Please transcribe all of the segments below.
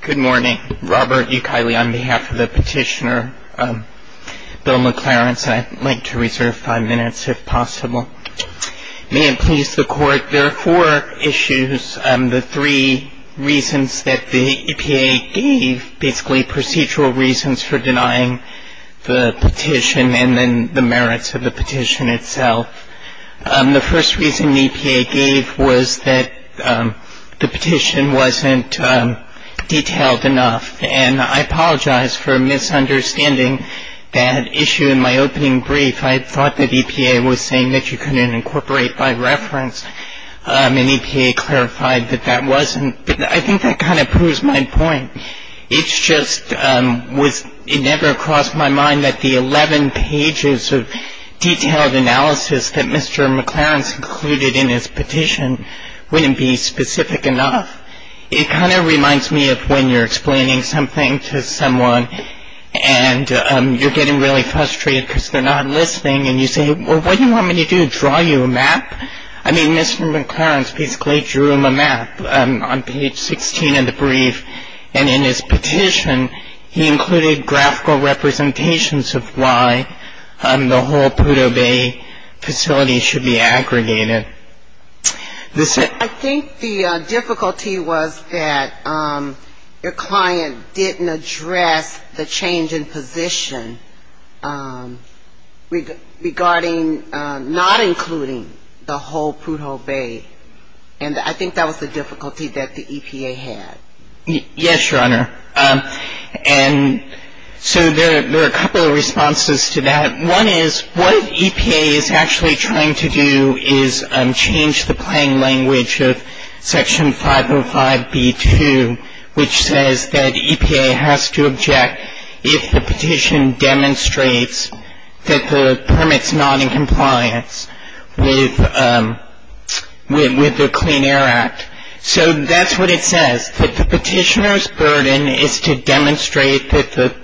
Good morning. Robert Ukele on behalf of the petitioner Bill McClarence and I'd like to reserve five minutes if possible. May it please the court, there are four issues, the three reasons that the EPA gave, basically procedural reasons for denying the petition and then the merits of the petition itself. The first reason the EPA gave was that the petition wasn't detailed enough. And I apologize for misunderstanding that issue in my opening brief. I thought that EPA was saying that you couldn't incorporate by reference, and EPA clarified that that wasn't. But I think that kind of proves my point. It just never crossed my mind that the 11 pages of detailed analysis that Mr. McClarence included in his petition wouldn't be specific enough. It kind of reminds me of when you're explaining something to someone and you're getting really frustrated because they're not listening and you say, well, what do you want me to do, draw you a map? I mean, Mr. McClarence basically drew him a map on page 16 in the brief, and in his petition, he included graphical representations of why the whole Prudhoe Bay facility should be aggregated. I think the difficulty was that your client didn't address the change in position regarding not including the whole Prudhoe Bay. And I think that was the difficulty that the EPA had. Yes, Your Honor. And so there are a couple of responses to that. One is what EPA is actually trying to do is change the playing language of Section 505b-2, which says that EPA has to object if the petition demonstrates that the permit's not in compliance with the Clean Air Act. So that's what it says, that the petitioner's burden is to demonstrate that the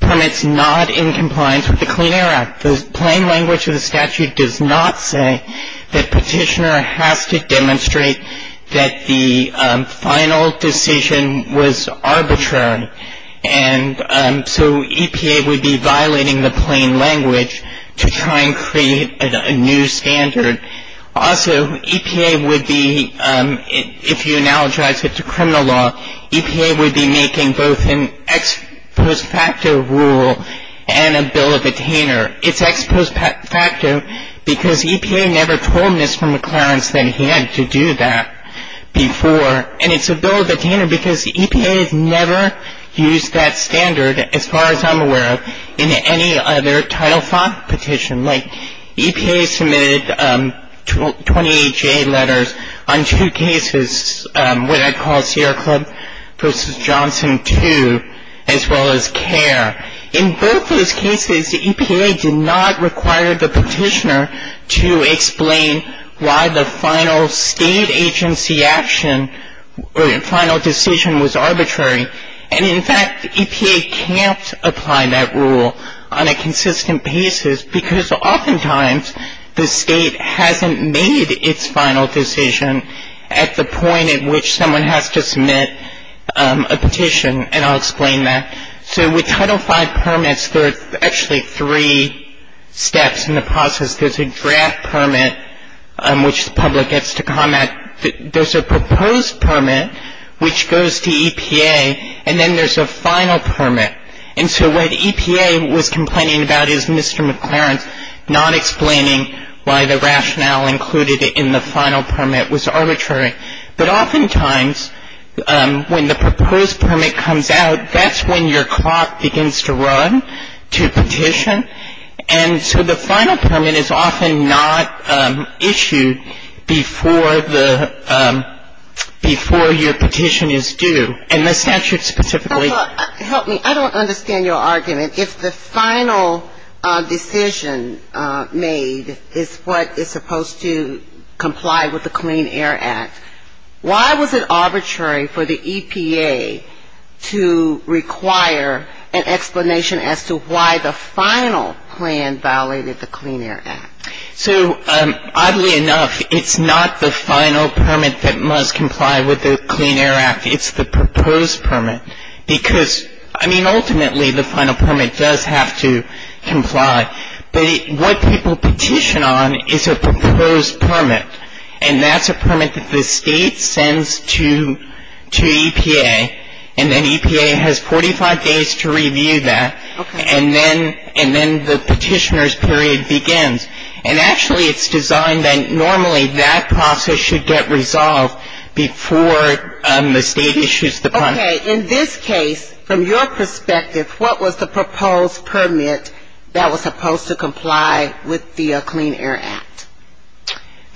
permit's not in compliance with the Clean Air Act. The playing language of the statute does not say that petitioner has to demonstrate that the final decision was arbitrary. And so EPA would be violating the playing language to try and create a new standard. Also, EPA would be, if you analogize it to criminal law, EPA would be making both an ex post facto rule and a bill of attainer. It's ex post facto because EPA never told Mr. McLaren that he had to do that before. And it's a bill of attainer because EPA has never used that standard, as far as I'm aware of, in any other Title V petition. Like, EPA submitted 28-J letters on two cases, what I'd call Sierra Club v. Johnson 2, as well as CARE. In both those cases, the EPA did not require the petitioner to explain why the final state agency action or final decision was arbitrary. And, in fact, EPA can't apply that rule on a consistent basis because oftentimes the state hasn't made its final decision at the point at which someone has to submit a petition. And I'll explain that. So with Title V permits, there are actually three steps in the process. There's a draft permit, which the public gets to comment. There's a proposed permit, which goes to EPA. And then there's a final permit. And so what EPA was complaining about is Mr. McLaren not explaining why the rationale included in the final permit was arbitrary. But oftentimes, when the proposed permit comes out, that's when your clock begins to run to petition. And so the final permit is often not issued before the — before your petition is due. And the statute specifically — decision made is what is supposed to comply with the Clean Air Act. Why was it arbitrary for the EPA to require an explanation as to why the final plan violated the Clean Air Act? So, oddly enough, it's not the final permit that must comply with the Clean Air Act. It's the proposed permit. Because, I mean, ultimately, the final permit does have to comply. But what people petition on is a proposed permit. And that's a permit that the state sends to EPA. And then EPA has 45 days to review that. Okay. And then the petitioner's period begins. And actually, it's designed that normally that process should get resolved before the state issues the permit. Okay. In this case, from your perspective, what was the proposed permit that was supposed to comply with the Clean Air Act?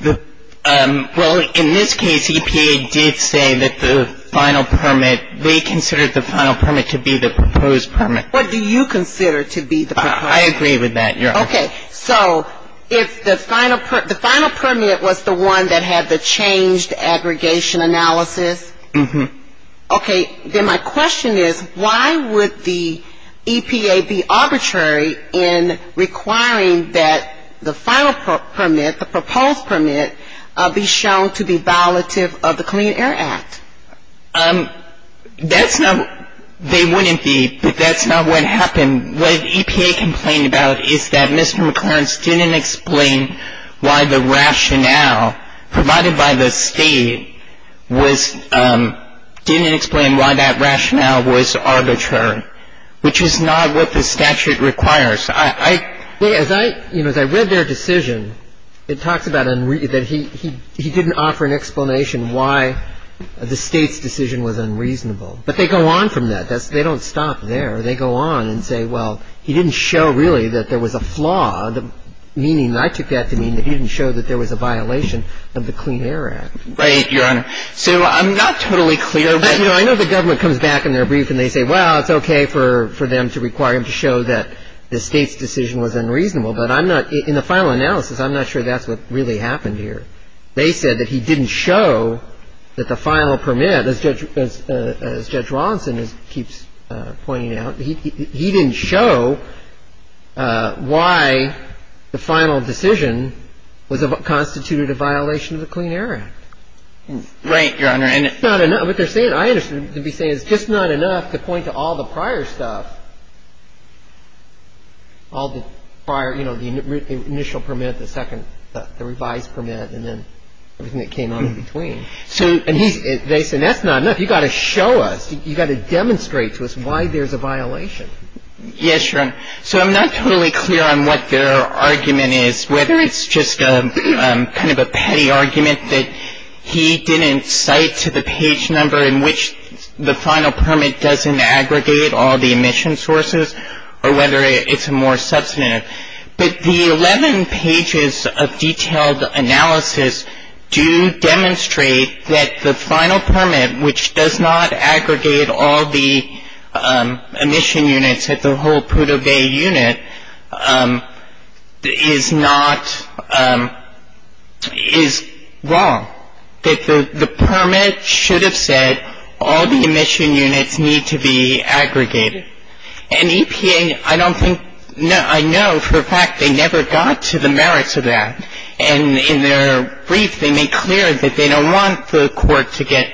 Well, in this case, EPA did say that the final permit — they considered the final permit to be the proposed permit. What do you consider to be the proposed permit? I agree with that, Your Honor. Okay. So if the final permit was the one that had the changed aggregation analysis — Mm-hmm. Okay. Then my question is, why would the EPA be arbitrary in requiring that the final permit, the proposed permit, be shown to be violative of the Clean Air Act? That's not — they wouldn't be. But that's not what happened. What EPA complained about is that Mr. McLaren didn't explain why the rationale provided by the State was — didn't explain why that rationale was arbitrary, which is not what the statute requires. I — Well, as I — you know, as I read their decision, it talks about — that he didn't offer an explanation why the State's decision was unreasonable. But they go on from that. They don't stop there. They go on and say, well, he didn't show, really, that there was a flaw, meaning — I took that to mean that he didn't show that there was a violation of the Clean Air Act. Right, Your Honor. So I'm not totally clear. I know the government comes back in their brief and they say, well, it's okay for them to require him to show that the State's decision was unreasonable. But I'm not — in the final analysis, I'm not sure that's what really happened here. They said that he didn't show that the final permit, as Judge — as Judge Rawlinson keeps pointing out, he didn't show why the final decision was — constituted a violation of the Clean Air Act. Right, Your Honor. And it's not enough — what they're saying, I understand, to be saying it's just not enough to point to all the prior stuff, all the prior — you know, the initial permit, the second — the revised permit, and then everything that came in between. So — And they said that's not enough. You've got to show us. You've got to demonstrate to us why there's a violation. Yes, Your Honor. So I'm not totally clear on what their argument is, whether it's just kind of a petty argument that he didn't cite to the page number in which the final permit doesn't aggregate all the emission sources, or whether it's a more substantive. But the 11 pages of detailed analysis do demonstrate that the final permit, which does not aggregate all the emission units at the whole Prudhoe Bay unit, is not — is wrong. That the permit should have said all the emission units need to be aggregated. And EPA, I don't think — I know for a fact they never got to the merits of that. And in their brief, they made clear that they don't want the court to get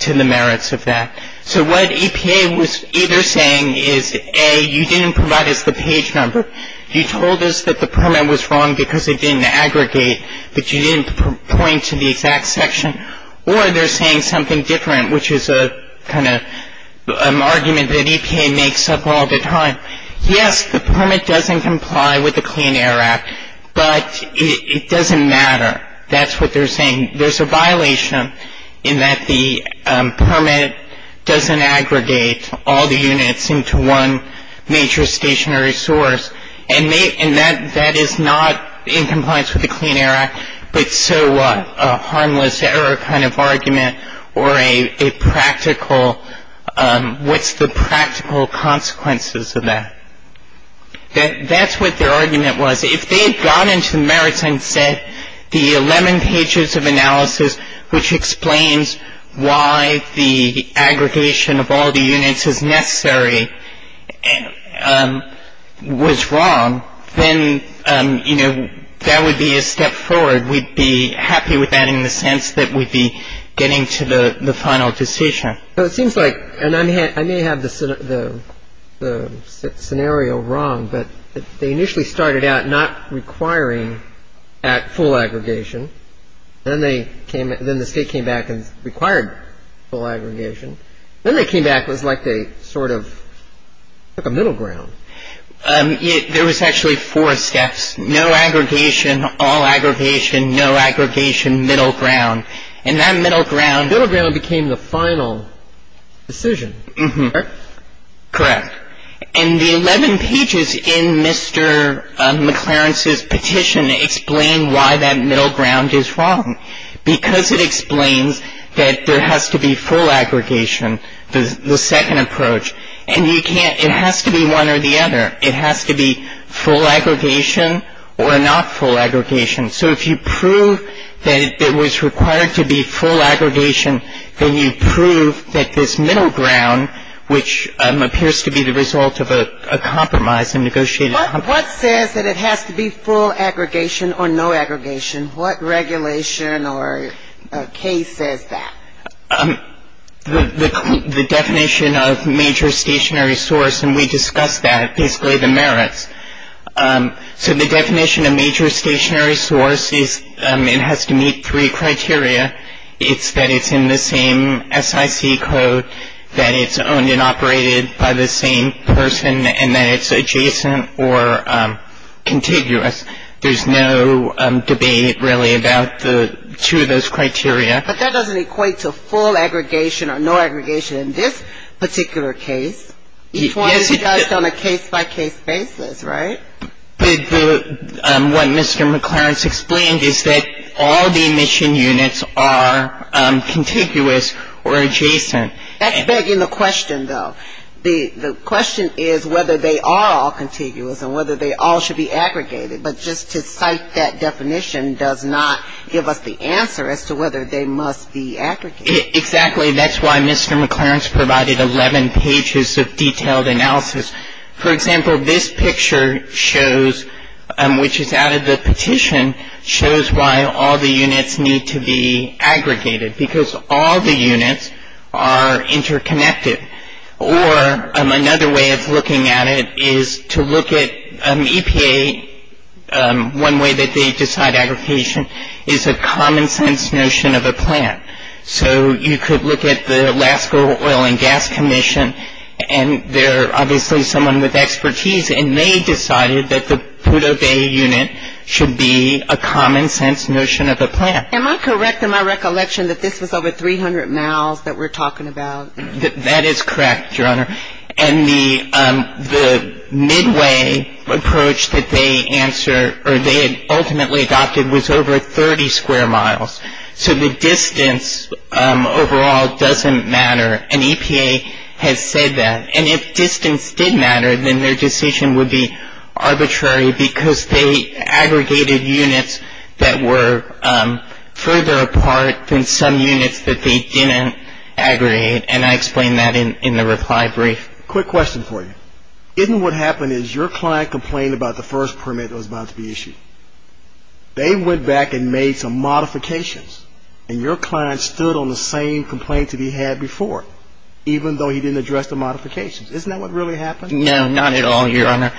to the merits of that. So what EPA was either saying is, A, you didn't provide us the page number, you told us that the permit was wrong because it didn't aggregate, that you didn't point to the exact section, or they're saying something different, which is a kind of argument that EPA makes up all the time. Yes, the permit doesn't comply with the Clean Air Act, but it doesn't matter. That's what they're saying. There's a violation in that the permit doesn't aggregate all the units into one major stationary source. And that is not in compliance with the Clean Air Act, but so what? A harmless error kind of argument, or a practical — what's the practical consequences of that? That's what their argument was. If they had gone into the merits and said the 11 pages of analysis, which explains why the aggregation of all the units is necessary, was wrong, then, you know, that would be a step forward. We'd be happy with that in the sense that we'd be getting to the final decision. So it seems like — and I may have the scenario wrong, but they initially started out not requiring at full aggregation. Then they came — then the state came back and required full aggregation. Then they came back and it was like they sort of took a middle ground. There was actually four steps. No aggregation, all aggregation, no aggregation, middle ground. And that middle ground — The middle ground became the final decision, correct? Correct. And the 11 pages in Mr. McLaren's petition explain why that middle ground is wrong, because it explains that there has to be full aggregation, the second approach. And you can't — it has to be one or the other. It has to be full aggregation or not full aggregation. So if you prove that it was required to be full aggregation, then you prove that this middle ground, which appears to be the result of a compromise, a negotiated compromise — What says that it has to be full aggregation or no aggregation? What regulation or case says that? The definition of major stationary source, and we discussed that, basically the merits. So the definition of major stationary source is it has to meet three criteria. It's that it's in the same SIC code, that it's owned and operated by the same person, and that it's adjacent or contiguous. There's no debate, really, about the two of those criteria. But that doesn't equate to full aggregation or no aggregation in this particular case. Before it is judged on a case-by-case basis, right? What Mr. McLaren explained is that all the emission units are contiguous or adjacent. That's begging the question, though. The question is whether they are all contiguous and whether they all should be aggregated. But just to cite that definition does not give us the answer as to whether they must be aggregated. Exactly. That's why Mr. McLaren's provided 11 pages of detailed analysis. For example, this picture shows, which is out of the petition, shows why all the units need to be aggregated, because all the units are interconnected. Or another way of looking at it is to look at EPA. One way that they decide aggregation is a common-sense notion of a plant. So you could look at the Alaska Oil and Gas Commission, and they're obviously someone with expertise, and they decided that the Pudeau Bay unit should be a common-sense notion of a plant. Am I correct in my recollection that this was over 300 miles that we're talking about? That is correct, Your Honor. And the midway approach that they answer, or they had ultimately adopted, was over 30 square miles. So the distance overall doesn't matter, and EPA has said that. And if distance did matter, then their decision would be arbitrary, because they aggregated units that were further apart than some units that they didn't aggregate, and I explain that in the reply brief. Quick question for you. Isn't what happened is your client complained about the first permit that was about to be issued. They went back and made some modifications, and your client stood on the same complaint that he had before, even though he didn't address the modifications. Isn't that what really happened? No, not at all, Your Honor.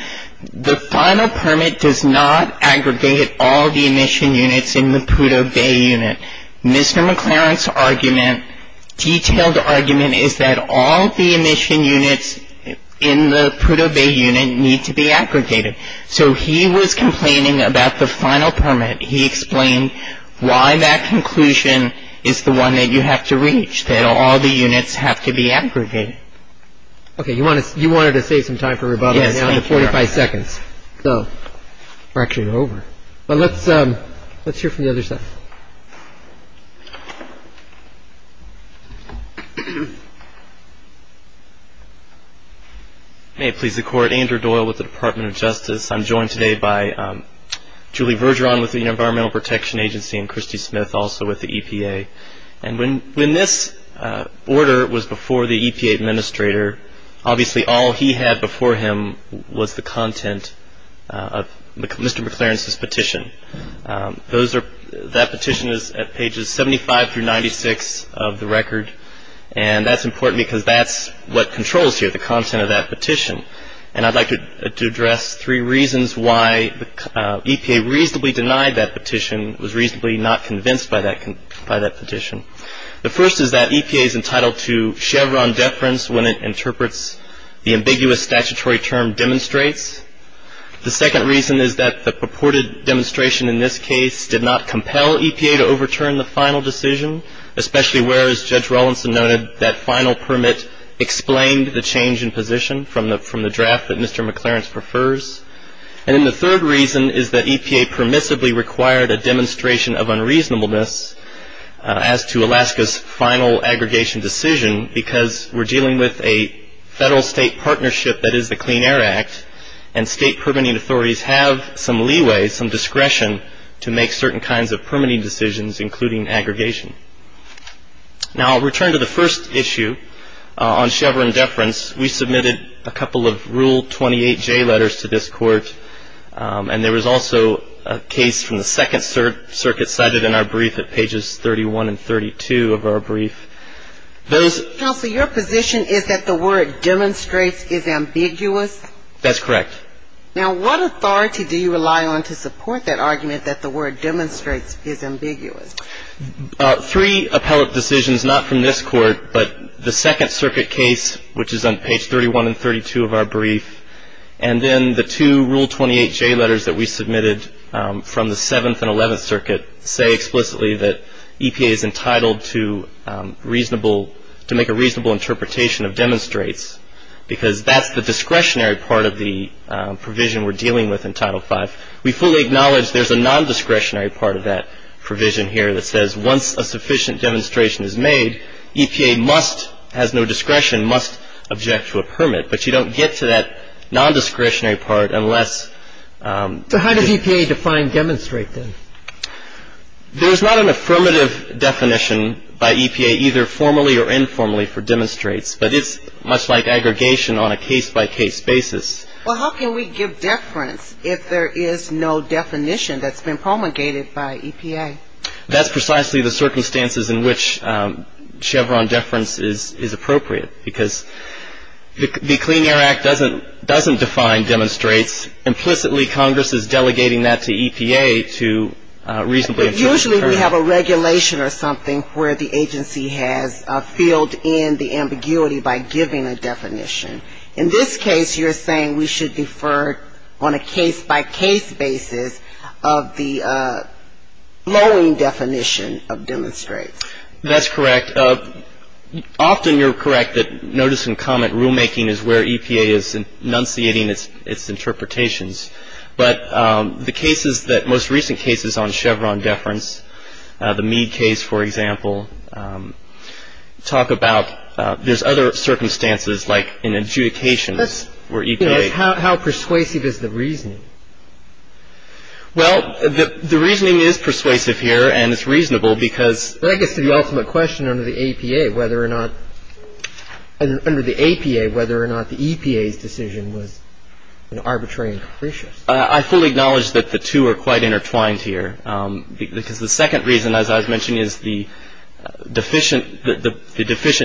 The final permit does not aggregate all the emission units in the Pudeau Bay unit. Mr. McLaren's argument, detailed argument, is that all the emission units in the Pudeau Bay unit need to be aggregated. So he was complaining about the final permit. He explained why that conclusion is the one that you have to reach, that all the units have to be aggregated. Okay. You wanted to save some time for rebuttal. Yes. You only have 45 seconds. So we're actually over. But let's hear from the other side. May it please the Court. Andrew Doyle with the Department of Justice. I'm joined today by Julie Vergeron with the Environmental Protection Agency and Christy Smith also with the EPA. And when this order was before the EPA administrator, obviously all he had before him was the content of Mr. McLaren's petition. That petition is at pages 75 through 96 of the record. And that's important because that's what controls here, the content of that petition. And I'd like to address three reasons why the EPA reasonably denied that petition, was reasonably not convinced by that petition. The first is that EPA is entitled to Chevron deference when it interprets the ambiguous statutory term demonstrates. The second reason is that the purported demonstration in this case did not compel EPA to overturn the final decision, especially whereas Judge Rawlinson noted that final permit explained the change in position from the draft that Mr. McLaren prefers. And then the third reason is that EPA permissively required a demonstration of unreasonableness as to Alaska's final aggregation decision because we're dealing with a federal-state partnership that is the Clean Air Act and state permitting authorities have some leeway, some discretion to make certain kinds of permitting decisions, including aggregation. Now I'll return to the first issue on Chevron deference. We submitted a couple of Rule 28J letters to this court, and there was also a case from the Second Circuit cited in our brief at pages 31 and 32 of our brief. Those Counsel, your position is that the word demonstrates is ambiguous? That's correct. Now what authority do you rely on to support that argument that the word demonstrates is ambiguous? Three appellate decisions, not from this court, but the Second Circuit case, which is on page 31 and 32 of our brief, and then the two Rule 28J letters that we submitted from the Seventh and Eleventh Circuit say explicitly that EPA is entitled to reasonable, to make a reasonable interpretation of demonstrates because that's the discretionary part of the provision we're dealing with in Title V. We fully acknowledge there's a nondiscretionary part of that provision here that says once a sufficient demonstration is made, EPA must, has no discretion, must object to a permit. But you don't get to that nondiscretionary part unless So how does EPA define demonstrate then? There's not an affirmative definition by EPA either formally or informally for demonstrates, but it's much like aggregation on a case-by-case basis. Well, how can we give deference if there is no definition that's been promulgated by EPA? That's precisely the circumstances in which Chevron deference is appropriate because the Clean Air Act doesn't define demonstrates. Implicitly, Congress is delegating that to EPA to reasonably But usually we have a regulation or something where the agency has filled in the ambiguity by giving a definition. In this case, you're saying we should defer on a case-by-case basis of the flowing definition of demonstrates. That's correct. Often you're correct that notice and comment rulemaking is where EPA is enunciating its interpretations. But the cases that most recent cases on Chevron deference, the Meade case, for example, talk about there's other circumstances like in adjudications where EPA How persuasive is the reasoning? Well, the reasoning is persuasive here and it's reasonable because That gets to the ultimate question under the APA whether or not the EPA's decision was arbitrary and capricious. I fully acknowledge that the two are quite intertwined here because the second reason, as I was mentioning, is the deficient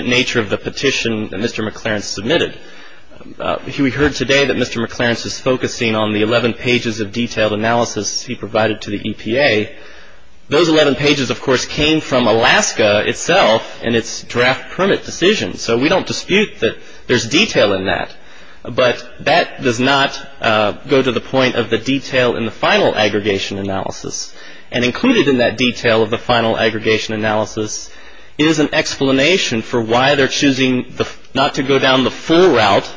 nature of the petition that Mr. McLaren submitted. We heard today that Mr. McLaren is focusing on the 11 pages of detailed analysis he provided to the EPA. Those 11 pages, of course, came from Alaska itself and its draft permit decision. So we don't dispute that there's detail in that. But that does not go to the point of the detail in the final aggregation analysis. And included in that detail of the final aggregation analysis is an explanation for why they're choosing not to go down the full route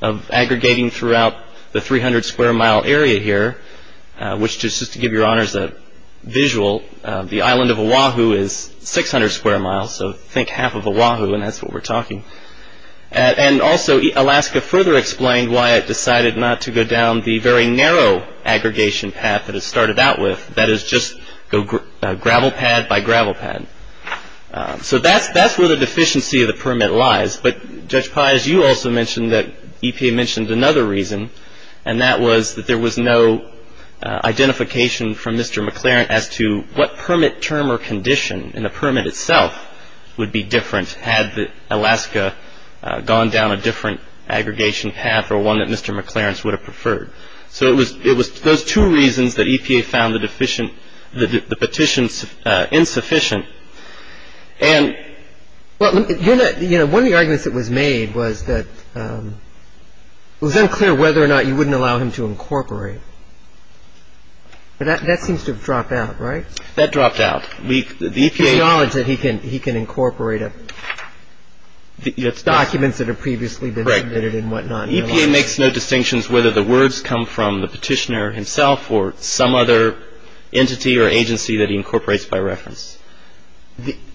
of aggregating throughout the 300 square mile area here, which just to give your honors a visual, the island of Oahu is 600 square miles. So think half of Oahu. And that's what we're talking. And also Alaska further explained why it decided not to go down the very narrow aggregation path that it started out with. That is just go gravel pad by gravel pad. So that's that's where the deficiency of the permit lies. But, Judge Pius, you also mentioned that EPA mentioned another reason, and that was that there was no identification from Mr. McLaren as to what permit term or condition in the permit itself would be different had Alaska gone down a different aggregation path or one that Mr. McLaren would have preferred. So it was those two reasons that EPA found the petition insufficient. And one of the arguments that was made was that it was unclear whether or not you wouldn't allow him to incorporate. But that seems to have dropped out, right? That dropped out. We acknowledge that he can he can incorporate documents that have previously been submitted and whatnot. EPA makes no distinctions whether the words come from the petitioner himself or some other entity or agency that he incorporates by reference.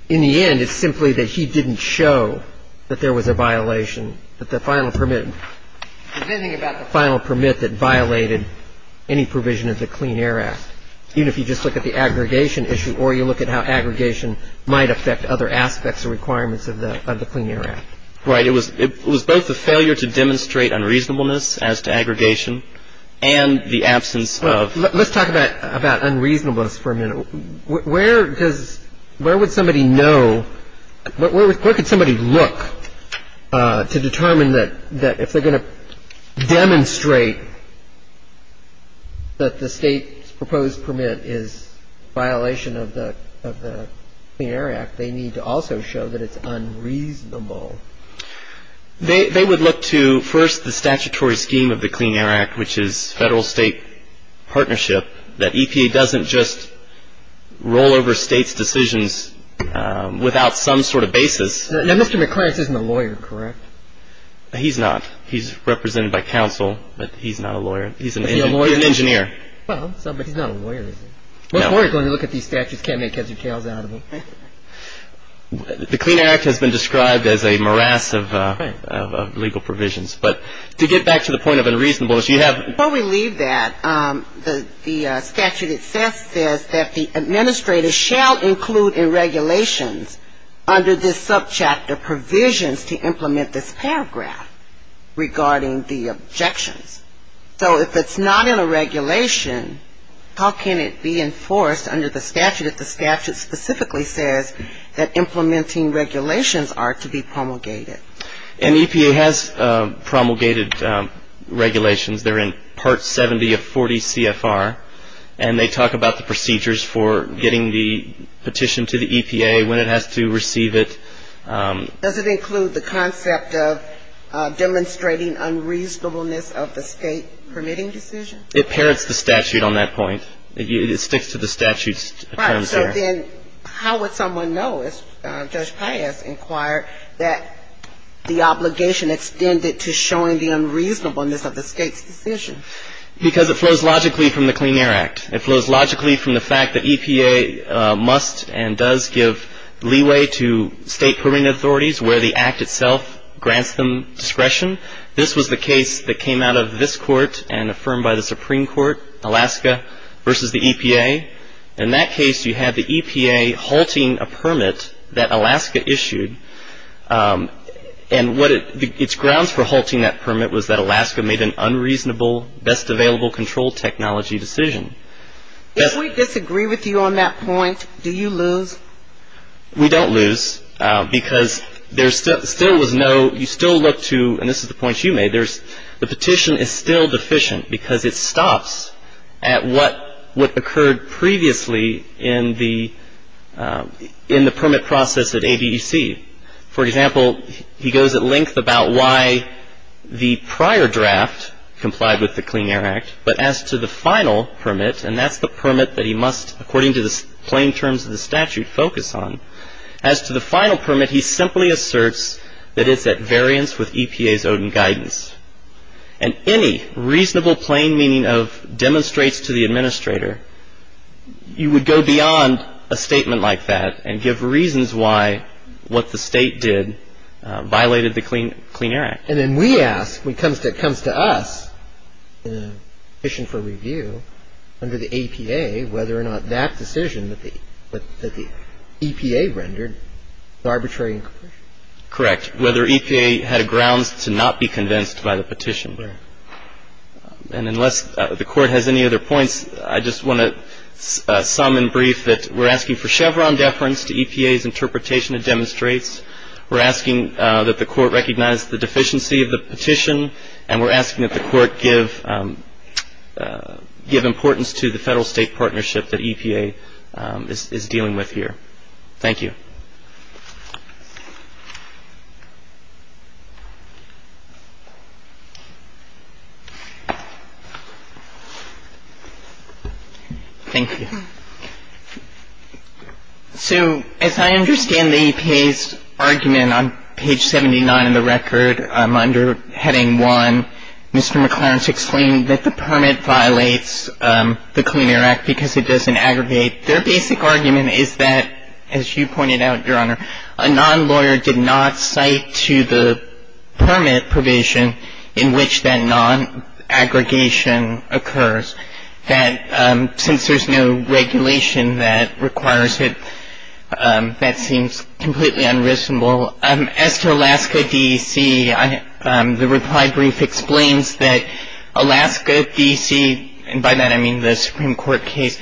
In the end, it's simply that he didn't show that there was a violation of the final permit. There's nothing about the final permit that violated any provision of the Clean Air Act, even if you just look at the aggregation issue or you look at how aggregation might affect other aspects or requirements of the Clean Air Act. Right. It was it was both the failure to demonstrate unreasonableness as to aggregation and the absence of. Let's talk about about unreasonableness for a minute. Where does where would somebody know where could somebody look to determine that that if they're going to demonstrate that the state's proposed permit is a violation of the Clean Air Act, they need to also show that it's unreasonable? They would look to first the statutory scheme of the Clean Air Act, which is federal state partnership, that EPA doesn't just roll over state's decisions without some sort of basis. Now, Mr. McClaren isn't a lawyer, correct? He's not. He's represented by counsel, but he's not a lawyer. He's an engineer. Well, he's not a lawyer. When you look at these statutes, can't make heads or tails out of them. The Clean Air Act has been described as a morass of legal provisions. But to get back to the point of unreasonableness, you have. Before we leave that, the statute itself says that the administrator shall include in regulations under this subchapter provisions to implement this paragraph regarding the objections. So if it's not in a regulation, how can it be enforced under the statute if the statute specifically says that implementing regulations are to be promulgated? An EPA has promulgated regulations. They're in Part 70 of 40 CFR, and they talk about the procedures for getting the petition to the EPA, when it has to receive it. Does it include the concept of demonstrating unreasonableness of the State permitting decision? It parrots the statute on that point. It sticks to the statute's terms there. Right. So then how would someone know, as Judge Pius inquired, that the obligation extended to showing the unreasonableness of the State's decision? Because it flows logically from the Clean Air Act. It flows logically from the fact that EPA must and does give leeway to State permitting authorities where the Act itself grants them discretion. This was the case that came out of this court and affirmed by the Supreme Court, Alaska versus the EPA. In that case, you had the EPA halting a permit that Alaska issued. And what it's grounds for halting that permit was that Alaska made an unreasonable, best available control technology decision. If we disagree with you on that point, do you lose? We don't lose because there still was no, you still look to, and this is the point you made, the petition is still deficient because it stops at what occurred previously in the permit process at ABEC. For example, he goes at length about why the prior draft complied with the Clean Air Act, but as to the final permit, and that's the permit that he must, according to the plain terms of the statute, focus on, as to the final permit, he simply asserts that it's at variance with EPA's own guidance. And any reasonable plain meaning of demonstrates to the administrator, you would go beyond a statement like that and give reasons why what the State did violated the Clean Air Act. And then we ask, when it comes to us, in a petition for review, under the EPA, whether or not that decision that the EPA rendered was arbitrary. Correct. Whether EPA had a grounds to not be convinced by the petition. Right. And unless the Court has any other points, I just want to sum and brief that we're asking for Chevron deference to EPA's interpretation of demonstrates. We're asking that the Court recognize the deficiency of the petition, and we're asking that the Court give importance to the Federal-State partnership that EPA is dealing with here. Thank you. Thank you. So as I understand the EPA's argument on page 79 of the record, under Heading 1, Mr. McLaren's explaining that the permit violates the Clean Air Act because it doesn't aggregate. Their basic argument is that, as you pointed out, Your Honor, a non-lawyer did not cite to the permit provision in which that non-aggregation occurs, that since there's no regulation that requires it, that seems completely unresonable. As to Alaska D.C., the reply brief explains that Alaska D.C., and by that I mean the Supreme Court case,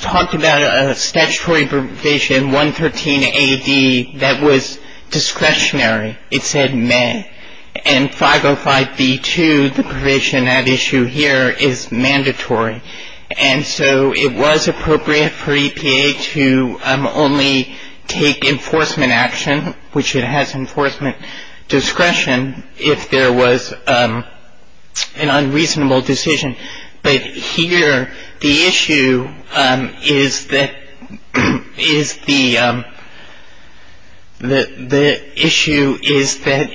talked about a statutory provision, 113 A.D., that was discretionary. It said meh. And 505B2, the provision at issue here, is mandatory. And so it was appropriate for EPA to only take enforcement action, which it has enforcement discretion, if there was an unreasonable decision. But here, the issue is that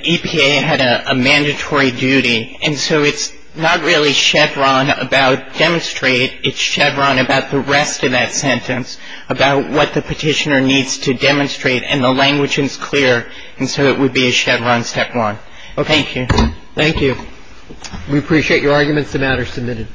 EPA had a mandatory duty. And so it's not really Chevron about demonstrate. It's Chevron about the rest of that sentence, about what the petitioner needs to demonstrate, and the language is clear. And so it would be a Chevron Step 1. Okay. Thank you. Thank you. We appreciate your arguments. The matter is submitted.